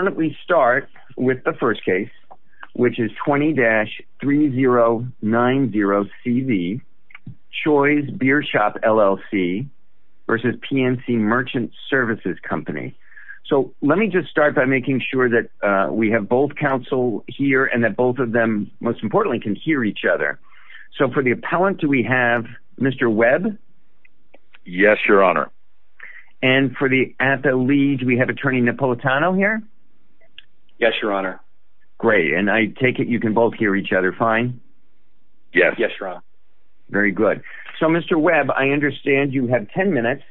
So why don't we start with the first case which is 20-3090CV Choi's Beer Shop, LLC versus PNC Merchant Services Company. So let me just start by making sure that we have both counsel here and that both of them most importantly can hear each other. So for the appellant do we have Mr. Webb? Yes your honor. And for the lead we have attorney Napolitano here? Yes your honor. Great and I take it you can both hear each other fine? Yes. Yes your honor. Very good. So Mr. Webb I understand you have ten minutes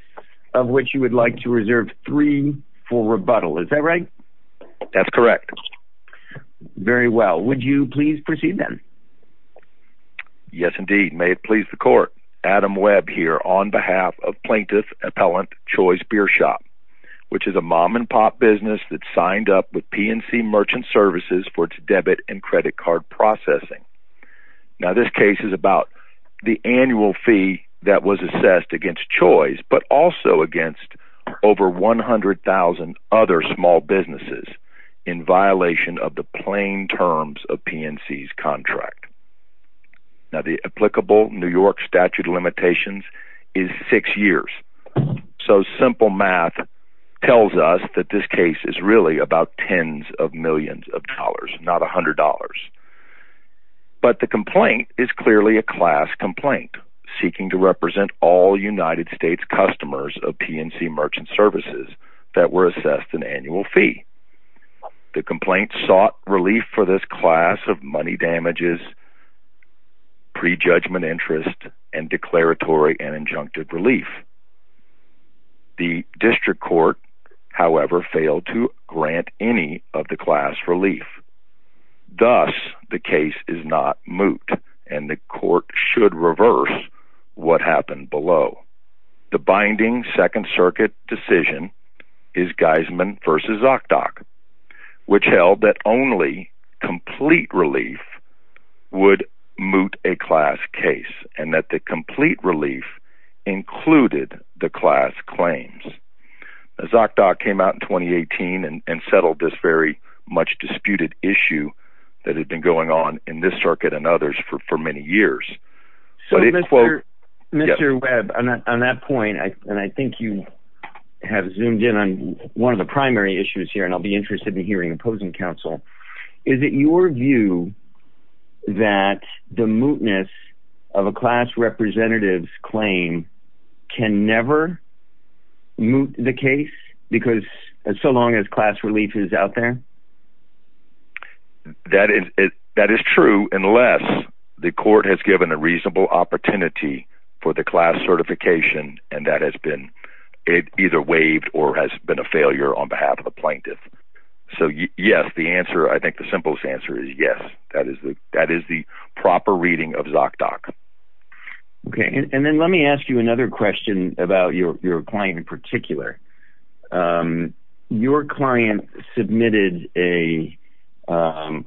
of which you would like to reserve three for rebuttal. Is that right? That's correct. Very well. Would you please proceed then? Yes indeed. May it please the court. Adam Webb here on behalf of plaintiff appellant Choi's Beer Shop which is a mom-and-pop business that signed up with PNC Merchant Services for its debit and credit card processing. Now this case is about the annual fee that was assessed against Choi's but also against over 100,000 other small businesses in violation of the plain terms of PNC's contract. Now the applicable New York statute of limitations is six years so simple math tells us that this case is really about tens of millions of dollars not a hundred dollars. But the complaint is clearly a class complaint seeking to represent all United States customers of PNC Merchant Services that were assessed an annual fee. The complaint sought relief for this class of money damages, prejudgment interest, and declaratory and injunctive relief. The district court however failed to grant any of the class relief. Thus the case is not moot and the court should reverse what happened below. The binding Second Circuit decision is Heisman v. ZocDoc which held that only complete relief would moot a class case and that the complete relief included the class claims. ZocDoc came out in 2018 and settled this very much disputed issue that had been going on in this circuit and others for many years. So Mr. Webb on that point and I think you have zoomed in on one of the primary issues here and I'll be interested in hearing opposing counsel. Is it your view that the mootness of a class representative's claim can never moot the case because as so long as class relief is out there? That is true unless the court has given a it either waived or has been a failure on behalf of the plaintiff. So yes the answer I think the simplest answer is yes that is the that is the proper reading of ZocDoc. Okay and then let me ask you another question about your client in particular. Your client submitted a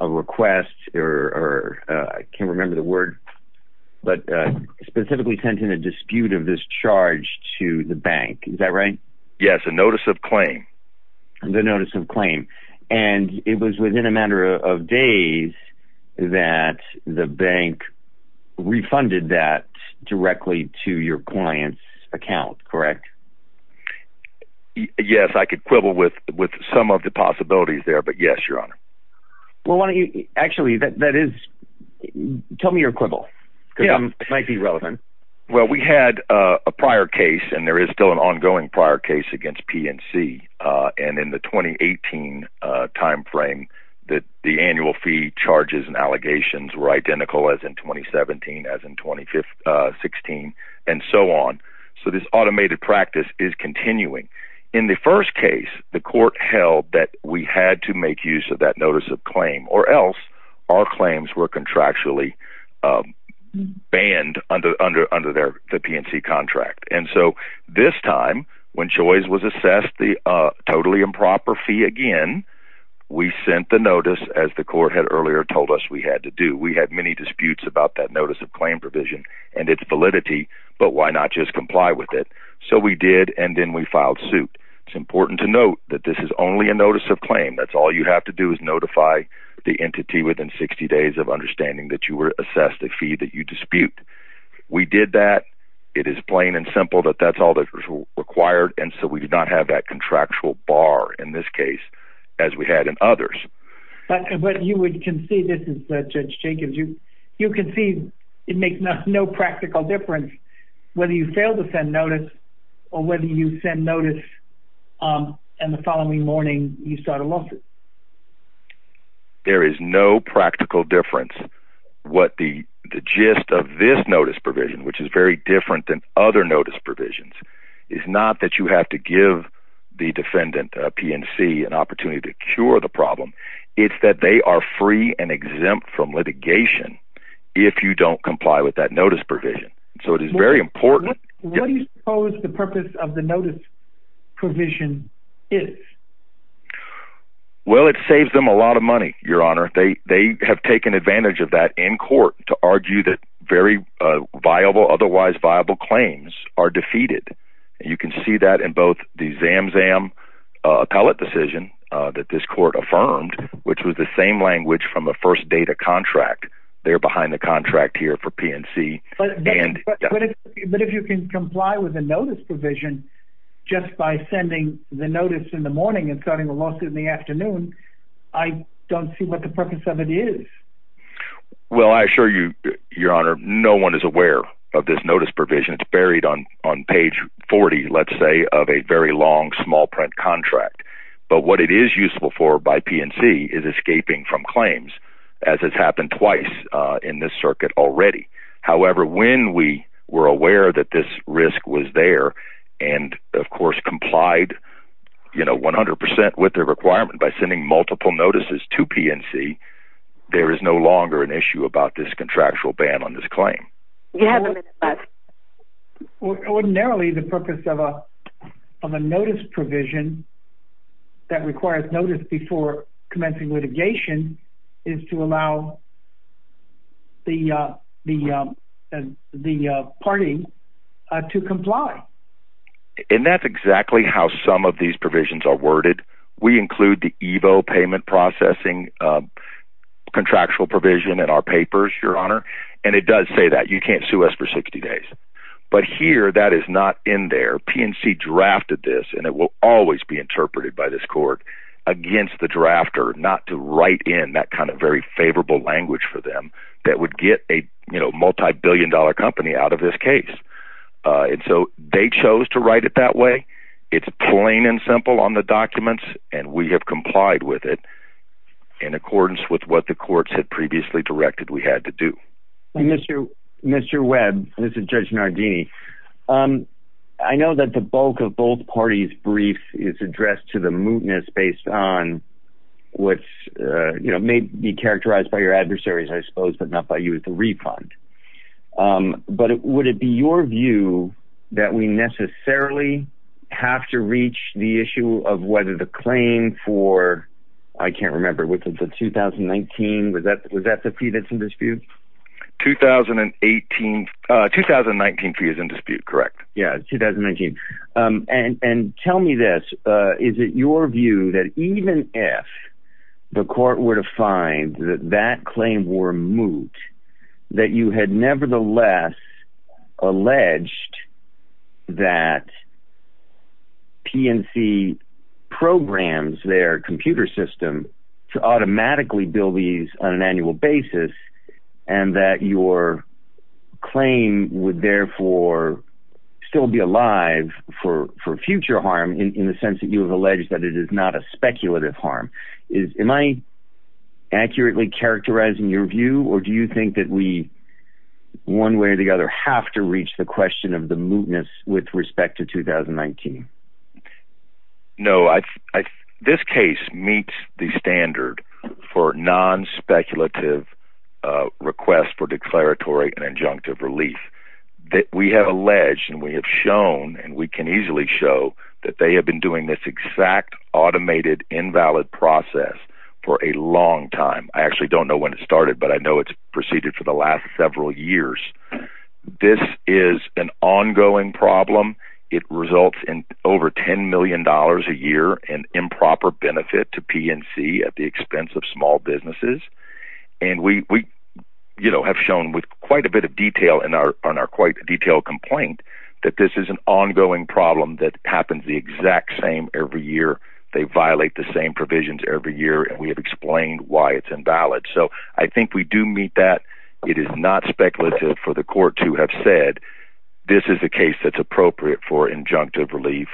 request or I can't remember the word but specifically sent in a dispute of this charge to the bank. Is that right? Yes a notice of claim. The notice of claim and it was within a matter of days that the bank refunded that directly to your clients account correct? Yes I could quibble with with some of the possibilities there but yes your honor. Well why don't you actually that that is tell me your quibble. Yeah it might be relevant. Well we had a prior case and there is still an ongoing prior case against PNC and in the 2018 time frame that the annual fee charges and allegations were identical as in 2017 as in 2016 and so on. So this automated practice is continuing. In the first case the court held that we had to make use of that notice of claim or else our claims were contractually banned under under under their the PNC contract and so this time when choice was assessed the totally improper fee again we sent the notice as the court had earlier told us we had to do. We had many disputes about that notice of claim provision and its validity but why not just comply with it. So we did and then we filed suit. It's important to note that this is only a notice of claim that's all you have to do is notify the entity within 60 days of understanding that you were assessed a fee that you dispute. We did that it is plain and simple that that's all that was required and so we did not have that contractual bar in this case as we had in others. But you would can see this is Judge Jacobs you you can see it makes no practical difference whether you fail to send notice or whether you send notice and the following morning you start a lawsuit. There is no practical difference what the gist of this notice provision which is very different than other notice provisions is not that you have to give the defendant PNC an opportunity to cure the problem it's that they are free and exempt from litigation if you don't comply with that notice provision so it is very important. What do you suppose the purpose of the notice provision is? Well it saves them a lot of money your honor they they have taken advantage of that in court to argue that very viable otherwise viable claims are defeated you can see that in both the ZamZam appellate decision that this court affirmed which was the same language from the first data contract they're But if you can comply with a notice provision just by sending the notice in the morning and starting a lawsuit in the afternoon I don't see what the purpose of it is. Well I assure you your honor no one is aware of this notice provision it's buried on on page 40 let's say of a very long small print contract but what it is useful for by PNC is escaping from claims as has were aware that this risk was there and of course complied you know 100% with their requirement by sending multiple notices to PNC there is no longer an issue about this contractual ban on this claim. You have a minute left. Ordinarily the purpose of a notice provision that requires notice before commencing litigation is to allow the party to comply. And that's exactly how some of these provisions are worded we include the Evo payment processing contractual provision in our papers your honor and it does say that you can't sue us for 60 days but here that is not in there PNC drafted this and it will always be to write in that kind of very favorable language for them that would get a you know multi-billion dollar company out of this case and so they chose to write it that way it's plain and simple on the documents and we have complied with it in accordance with what the courts had previously directed we had to do. Mr. Webb this is Judge Nardini I know that the bulk of both parties brief is addressed to the mootness based on what you know may be characterized by your adversaries I suppose but not by you at the refund but it would it be your view that we necessarily have to reach the issue of whether the claim for I can't remember which is the 2019 with that was that the fee that's in dispute? 2018 2019 fee is in dispute correct yeah 2019 and and tell me this is it your view that even if the court were to find that that claim were moot that you had nevertheless alleged that PNC programs their computer system to automatically bill these on an annual basis and that your claim would therefore still be alive for for future harm in the sense that you have alleged that it is not a speculative harm is am I accurately characterizing your view or do you think that we one way or the other have to reach the question of the mootness with respect to 2019? No I this case meets the standard for non-speculative requests for declaratory and injunctive relief that we have alleged and we have shown and we can easily show that they have been doing this exact automated invalid process for a long time I actually don't know when it started but I know it's for the last several years this is an ongoing problem it results in over 10 million dollars a year and improper benefit to PNC at the expense of small businesses and we you know have shown with quite a bit of detail in our on our quite detailed complaint that this is an ongoing problem that happens the exact same every year they violate the same provisions every year and we have why it's invalid so I think we do meet that it is not speculative for the court to have said this is a case that's appropriate for injunctive relief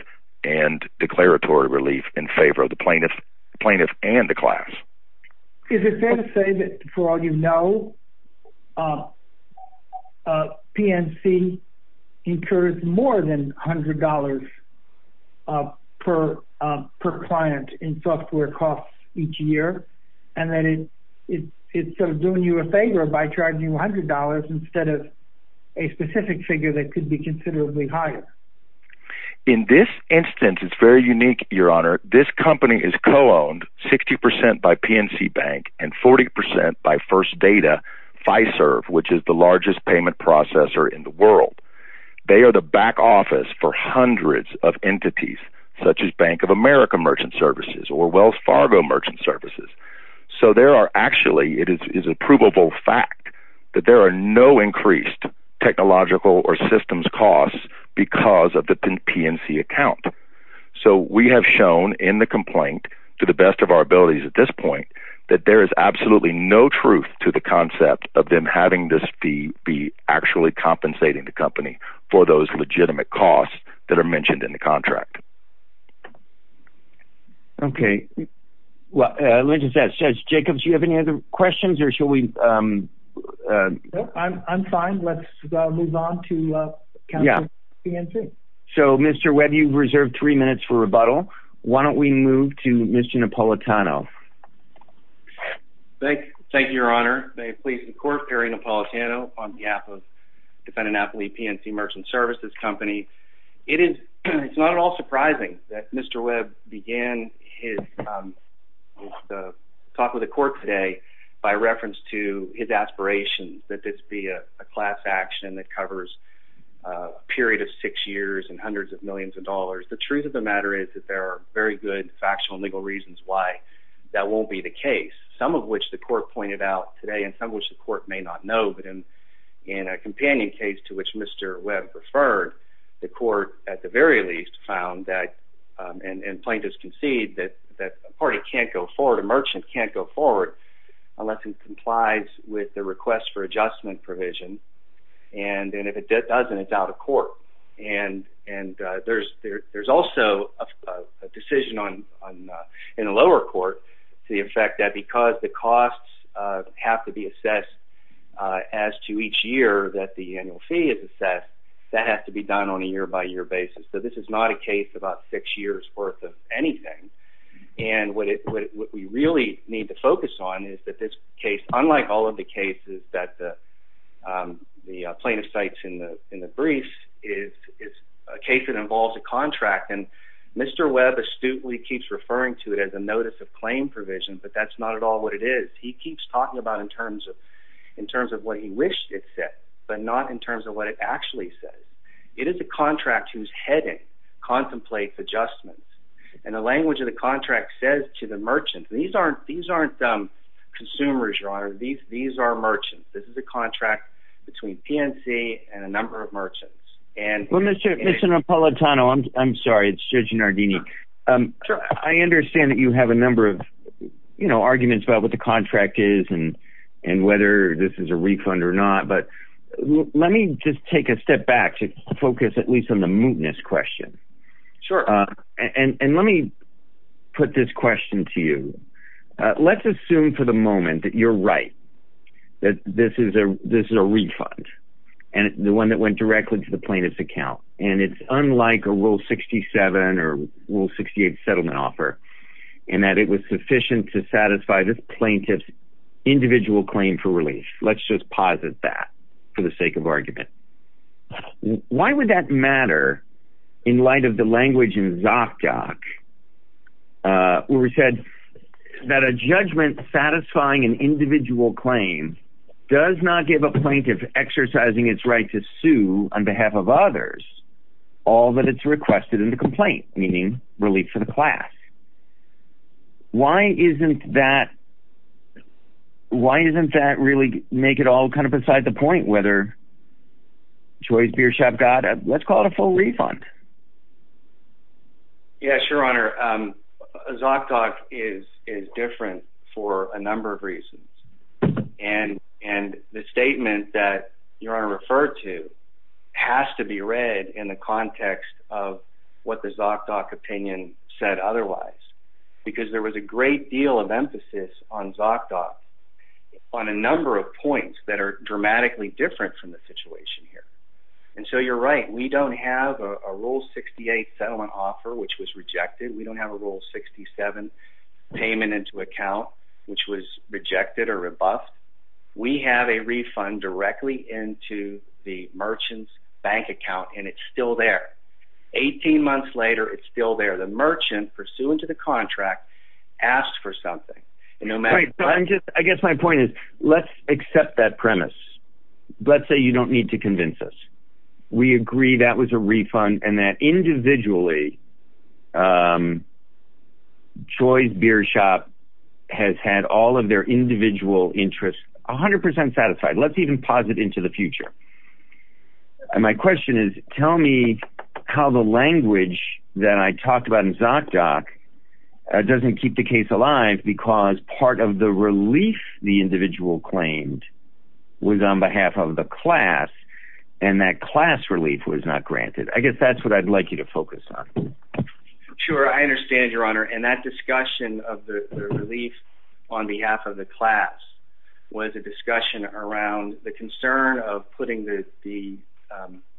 and declaratory relief in favor of the plaintiff plaintiff and the class. Is it fair to say that for all you know PNC incurs more than $100 per per client in software costs each year and then it's doing you a favor by charging $100 instead of a specific figure that could be considerably higher? In this instance it's very unique your honor this company is co-owned 60% by PNC Bank and 40% by First Data Fiserv which is the largest payment processor in the world they are the back office for hundreds of entities such as Bank of America Merchant Services or Wells Fargo Merchant Services so there are actually it is is a provable fact that there are no increased technological or systems costs because of the PNC account so we have shown in the complaint to the best of our abilities at this point that there is absolutely no truth to the concept of them having this fee be actually compensating the company for those Okay, well let me just ask, Jacob do you have any other questions or should we I'm fine let's move on to counsel PNC. So Mr. Webb you've reserved three minutes for rebuttal why don't we move to Mr. Napolitano. Thank you your honor may it please the court Gary Napolitano on behalf of Defendant Affiliate PNC Merchant Services Company it is it's not at all surprising that Mr. Webb began his talk with the court today by reference to his aspirations that this be a class action that covers a period of six years and hundreds of millions of dollars the truth of the matter is that there are very good factual legal reasons why that won't be the case some of which the court pointed out today and some which the court may not know but in in a companion case to which Mr. Webb referred the court at the very least found that and plaintiffs concede that that party can't go forward a merchant can't go forward unless it complies with the request for adjustment provision and then if it doesn't it's out of court and and there's there's also a decision on in a lower court to the effect that because the costs have to be assessed as to each year that the annual fee is that that has to be done on a year-by-year basis so this is not a case about six years worth of anything and what it what we really need to focus on is that this case unlike all of the cases that the plaintiff cites in the in the brief is a case that involves a contract and Mr. Webb astutely keeps referring to it as a notice of claim provision but that's not at all what it is he keeps talking about in terms of in terms of what he wished it said but not in terms of what it actually says it is a contract whose heading contemplates adjustments and the language of the contract says to the merchants these aren't these aren't some consumers your honor these these are merchants this is a contract between PNC and a number of merchants and well mr. Napolitano I'm sorry it's judging our Dini I understand that you have a number of you know arguments about what the contract is and and whether this is a refund or not but let me just take a step back to focus at least on the mootness question sure and and let me put this question to you let's assume for the moment that you're right that this is a this is a refund and the one that went directly to the plaintiff's account and it's unlike a rule 67 or rule 68 settlement offer and that it was sufficient to satisfy this plaintiff's individual claim for release let's just posit that for the sake of argument why would that matter in light of the language in Zot Gok where we said that a judgment satisfying an individual claim does not give a plaintiff exercising its right to sue on behalf of others all that it's requested in the complaint meaning relief for the class why isn't that why isn't that really make it all kind of beside the point whether choice beer shop got let's call it a full refund yes your honor Zot Gok is is different for a number of reasons and and the statement that your honor referred to has to be read in the context of what the Zot Gok opinion said otherwise because there was a great deal of emphasis on Zot Gok on a number of points that are dramatically different from the situation here and so you're right we don't have a rule 68 settlement offer which was rejected we don't have a rule 67 payment into account which was rejected or rebuffed we have a refund directly into the merchants bank account and it's still there 18 months later it's still there the merchant pursuant to the contract asked for something no matter I guess my point is let's accept that premise let's say you don't need to convince us we agree that was a refund and that individually choice beer shop has had all of their individual interests a hundred percent satisfied let's even posit into the future and my question is tell me how the language that I talked about in Zot Gok doesn't keep the case alive because part of the relief the individual claimed was on behalf of the class and that class relief was not granted I guess that's what I'd like you to focus on sure I understand your honor and that discussion of the relief on behalf of the class was a discussion around the concern of putting the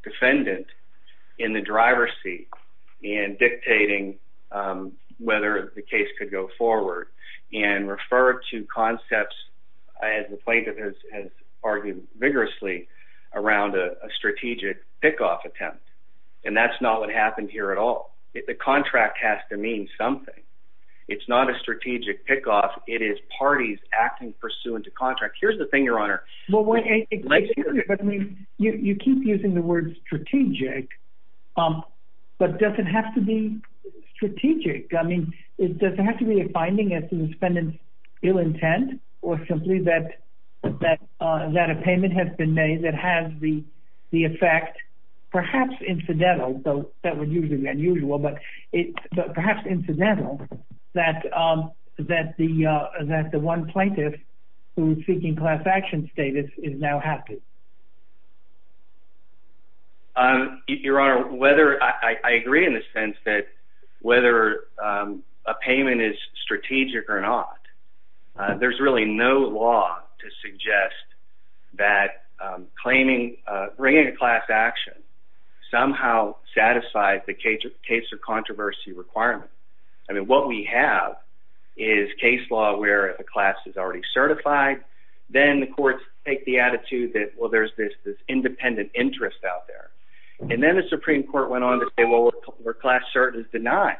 defendant in the driver's seat and dictating whether the case could go forward and refer to concepts as the plaintiff has argued vigorously around a strategic pickoff attempt and that's not what happened here at all if the contract has to mean something it's not a strategic pickoff it is parties acting pursuant to contract here's the thing your honor you keep using the word strategic but doesn't have to be strategic I mean it doesn't have to be a finding as to the defendant's ill intent or simply that that that a payment has been made that has the the effect perhaps incidental though that would usually be unusual but it perhaps incidental that that the that the one plaintiff who's seeking class action status is now happy your honor whether I agree in the sense that whether a payment is strategic or not there's really no law to suggest that claiming bringing a class action somehow satisfies the case of case or controversy requirement I mean what we have is case law where the class is already certified then the courts take the attitude that well there's this independent interest out there and then the Supreme Court went on to say well we're class certain is denied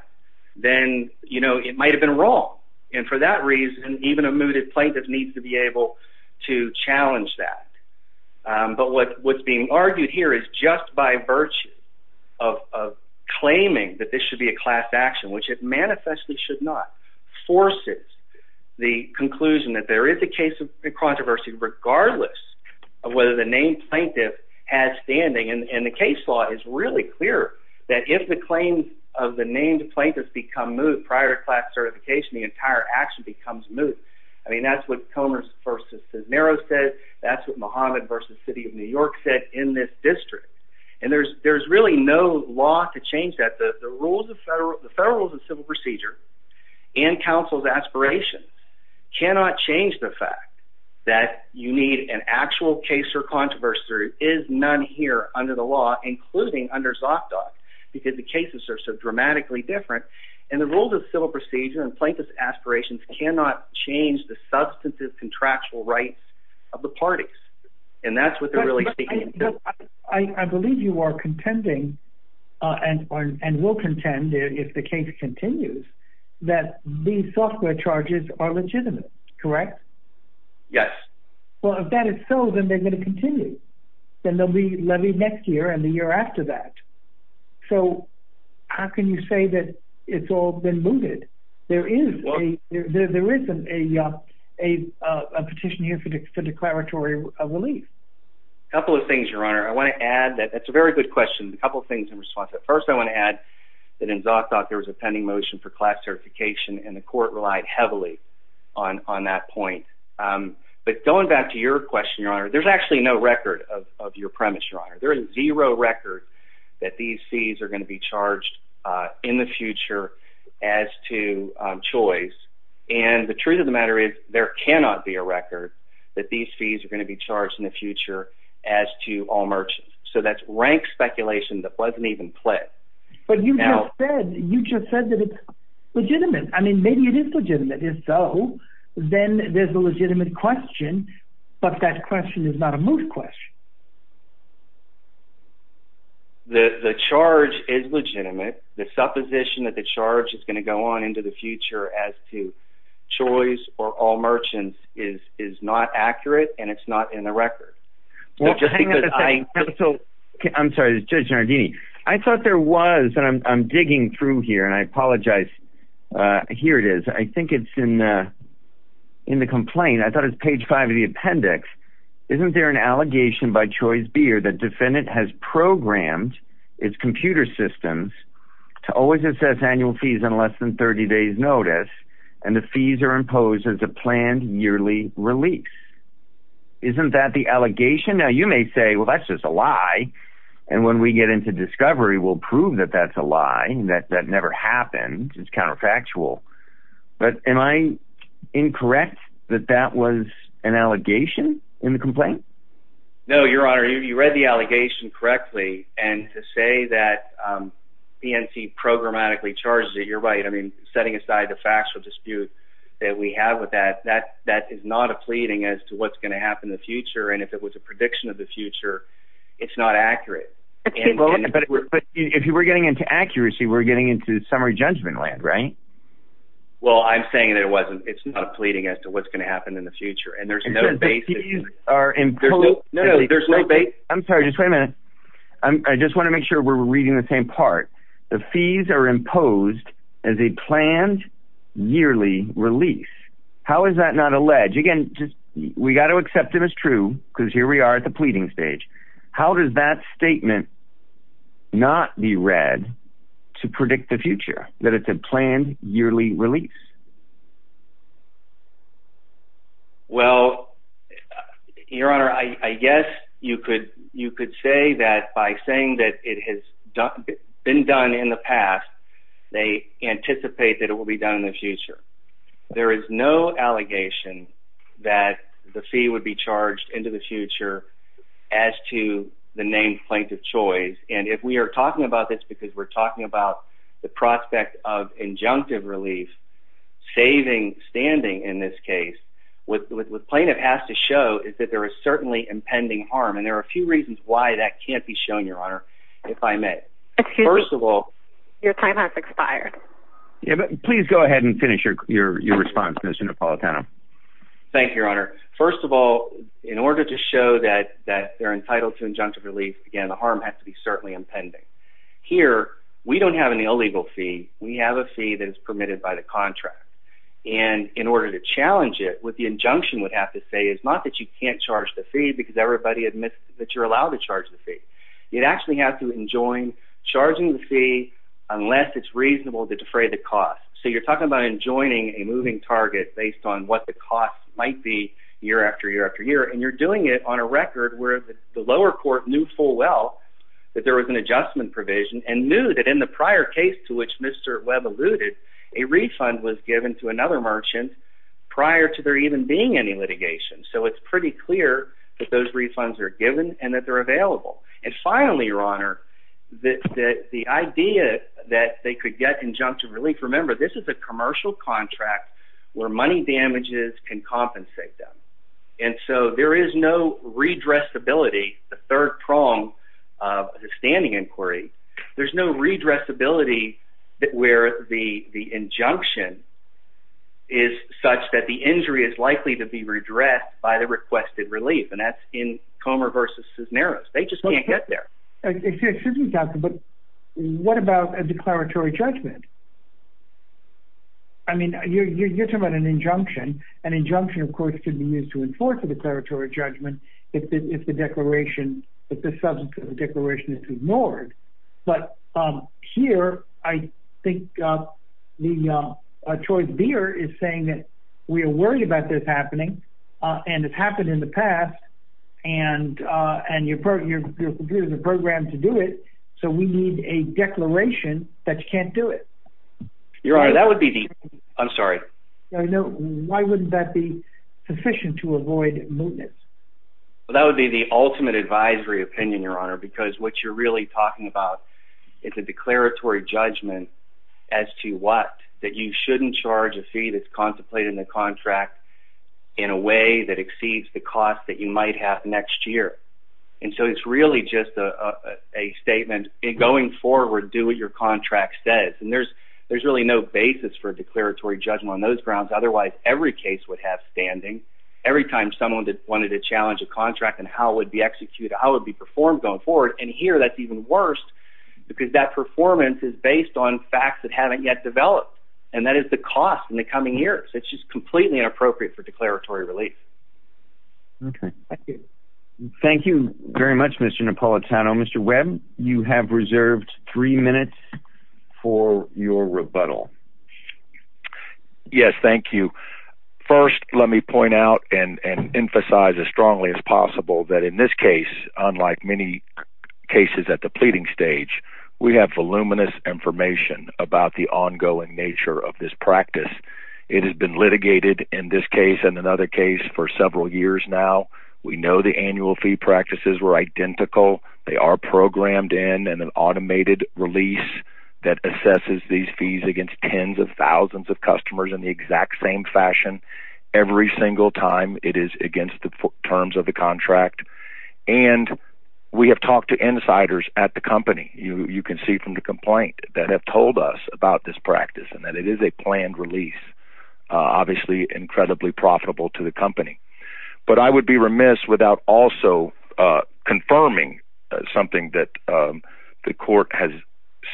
then you know it might have been wrong and for that reason even a mooted plaintiff needs to be able to challenge that but what what's being argued here is just by virtue of claiming that this should be a class action which it manifestly should not forces the conclusion that there is a case of controversy regardless of whether the named plaintiff has standing and the case law is really clear that if the claims of the named plaintiffs become moved prior to class certification the entire action becomes moot I mean that's what Comer's versus Cisneros said that's what Muhammad versus City of New York said in this district and there's there's really no law to change that the rules of federal the federal procedure and counsel's aspirations cannot change the fact that you need an actual case or controversy is none here under the law including under Zot Doc because the cases are so dramatically different and the rules of civil procedure and plaintiff's aspirations cannot change the substantive contractual rights of the parties and that's what they're really I believe you are contending and and will contend if the case continues that these software charges are legitimate correct yes well if that is so then they're going to continue then they'll be levy next year and the year after that so how can you say that it's all been mooted there is there isn't a a petition here for declaratory relief a couple of things your honor I want to add that that's a very good question a couple things in response at first I want to add that in Zot Doc there was a pending motion for class certification and the court relied heavily on on that point but going back to your question your honor there's actually no record of your premise your honor there is zero record that these fees are going to be charged in the future as to choice and the truth of the matter is there cannot be a record that these fees are going to be charged in the future as to all merchants so that's rank speculation that wasn't even played but you know you just said that it's legitimate I mean maybe it is legitimate if so then there's a legitimate question but that question is not a moot question the the charge is legitimate the supposition that the charge is going to go on into the future as to choice or all merchants is is not accurate and it's not in the record well just because I so I'm sorry judge Giardini I thought there was and I'm digging through here and I apologize here it is I think it's in in the complaint I thought it's page 5 of the appendix isn't there an allegation by choice beer that defendant has programmed its computer systems to always assess annual fees in less than 30 days notice and the fees are imposed as a planned yearly release isn't that the allegation now you may say well that's just a lie and when we get into discovery we'll prove that that's a lie and that that never happened it's counterfactual but am I incorrect that that was an allegation in the complaint no your honor you read the allegation correctly and to say that the NC programmatically charges it you're right I mean setting aside the factual dispute that we have with that that that is not a pleading as to what's going to happen in the future and if it was a prediction of the future it's not accurate but if you were getting into accuracy we're getting into summary judgment land right well I'm saying that it wasn't it's not a pleading as to what's going to happen in the future and there's no basis are in there's no no there's no bait I'm sorry just wait a minute I just want to make sure we're reading the same part the fees are imposed as a planned yearly release how is that not alleged again just we got to accept it as true because here we are at the pleading stage how does that statement not be read to predict the future that it's a planned yearly release well your honor I guess you could you could say that by saying that it has done been done in the past they anticipate that it will be done in the future there is no allegation that the fee would be charged into the future as to the name plaintiff choice and if we are talking about this because we're talking about the prospect of injunctive relief saving standing in this case with the plaintiff has to show is that there is certainly impending harm and there are two reasons why that can't be shown your honor if I met first of all your time has expired yeah but please go ahead and finish your your response mission to Paula Tano thank your honor first of all in order to show that that they're entitled to injunctive relief again the harm has to be certainly impending here we don't have an illegal fee we have a fee that is permitted by the contract and in order to challenge it with the injunction would have to say it's not that you can't charge the fee because everybody admits that you're allowed to charge the fee you'd actually have to enjoin charging the fee unless it's reasonable to defray the cost so you're talking about enjoining a moving target based on what the cost might be year after year after year and you're doing it on a record where the lower court knew full well that there was an adjustment provision and knew that in the prior case to which mr. web alluded a refund was given to another merchant prior to there even being any litigation so it's pretty clear that those refunds are given and that they're available and finally your honor that the idea that they could get injunction relief remember this is a commercial contract where money damages can compensate them and so there is no redress ability the third prong of the standing inquiry there's no redress ability that where the the injunction is such that the by the requested relief and that's in Comer versus Cisneros they just can't get there but what about a declaratory judgment I mean you're talking about an injunction an injunction of course should be used to enforce the declaratory judgment if the declaration if the substance of the declaration is ignored but here I think the choice beer is saying that we are worried about this happening and it's happened in the past and and you're part of your computer the program to do it so we need a declaration that you can't do it your honor that would be the I'm sorry I know why wouldn't that be sufficient to avoid mootness well that would be the ultimate advisory opinion your honor because what you're really talking about it's a declaratory judgment as to what that you shouldn't charge a fee that's contemplating the contract in a way that exceeds the cost that you might have next year and so it's really just a a statement in going forward do what your contract says and there's there's really no basis for declaratory judgment on those grounds otherwise every case would have standing every time someone did wanted to challenge a contract and how would be executed I would be performed on board and here that even worse because that performance is based on facts that haven't yet developed and that is the cost in the coming years it's just completely appropriate for declaratory relief thank you very much Mr. Napolitano Mr. Webb you have reserved three minutes for your rebuttal yes thank you first let me point out and and emphasize as strongly as possible that in this case unlike many cases at the pleading stage we have voluminous information about the ongoing nature of this practice it has been litigated in this case and another case for several years now we know the annual fee practices were identical they are programmed in and an automated release that assesses these fees against tens of thousands of customers in the exact same fashion every single time it is against the terms of the contract and we have talked to insiders at the company you can see from the complaint that have told us about this practice and that it is a planned release obviously incredibly profitable to the company but I would be remiss without also confirming something that the court has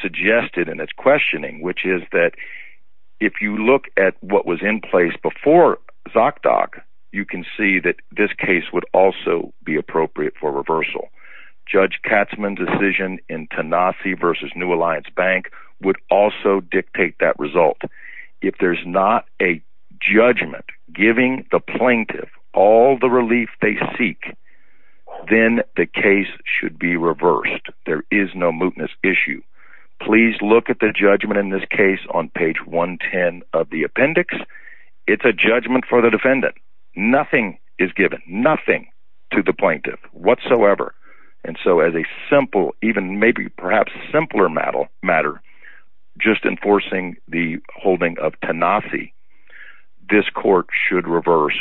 suggested and it's questioning which is that if you look at what was in place before you can see that this case would also be appropriate for reversal judge Katzmann decision in Tennessee vs. New Alliance Bank would also dictate that result if there's not a judgment giving the plaintiff all the relief they seek then the case should be reversed there is no mootness issue please look at the judgment for the defendant nothing is given nothing to the plaintiff whatsoever and so as a simple even maybe perhaps simpler metal matter just enforcing the holding of tenacity this court should reverse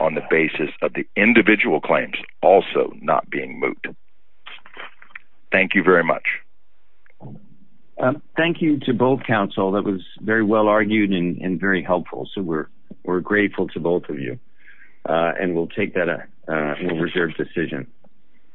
on the basis of the individual claims also not being moot thank you very much thank you to both counsel that was very well argued in in very helpful so we're we're grateful to both of you and we'll take that a reserved decision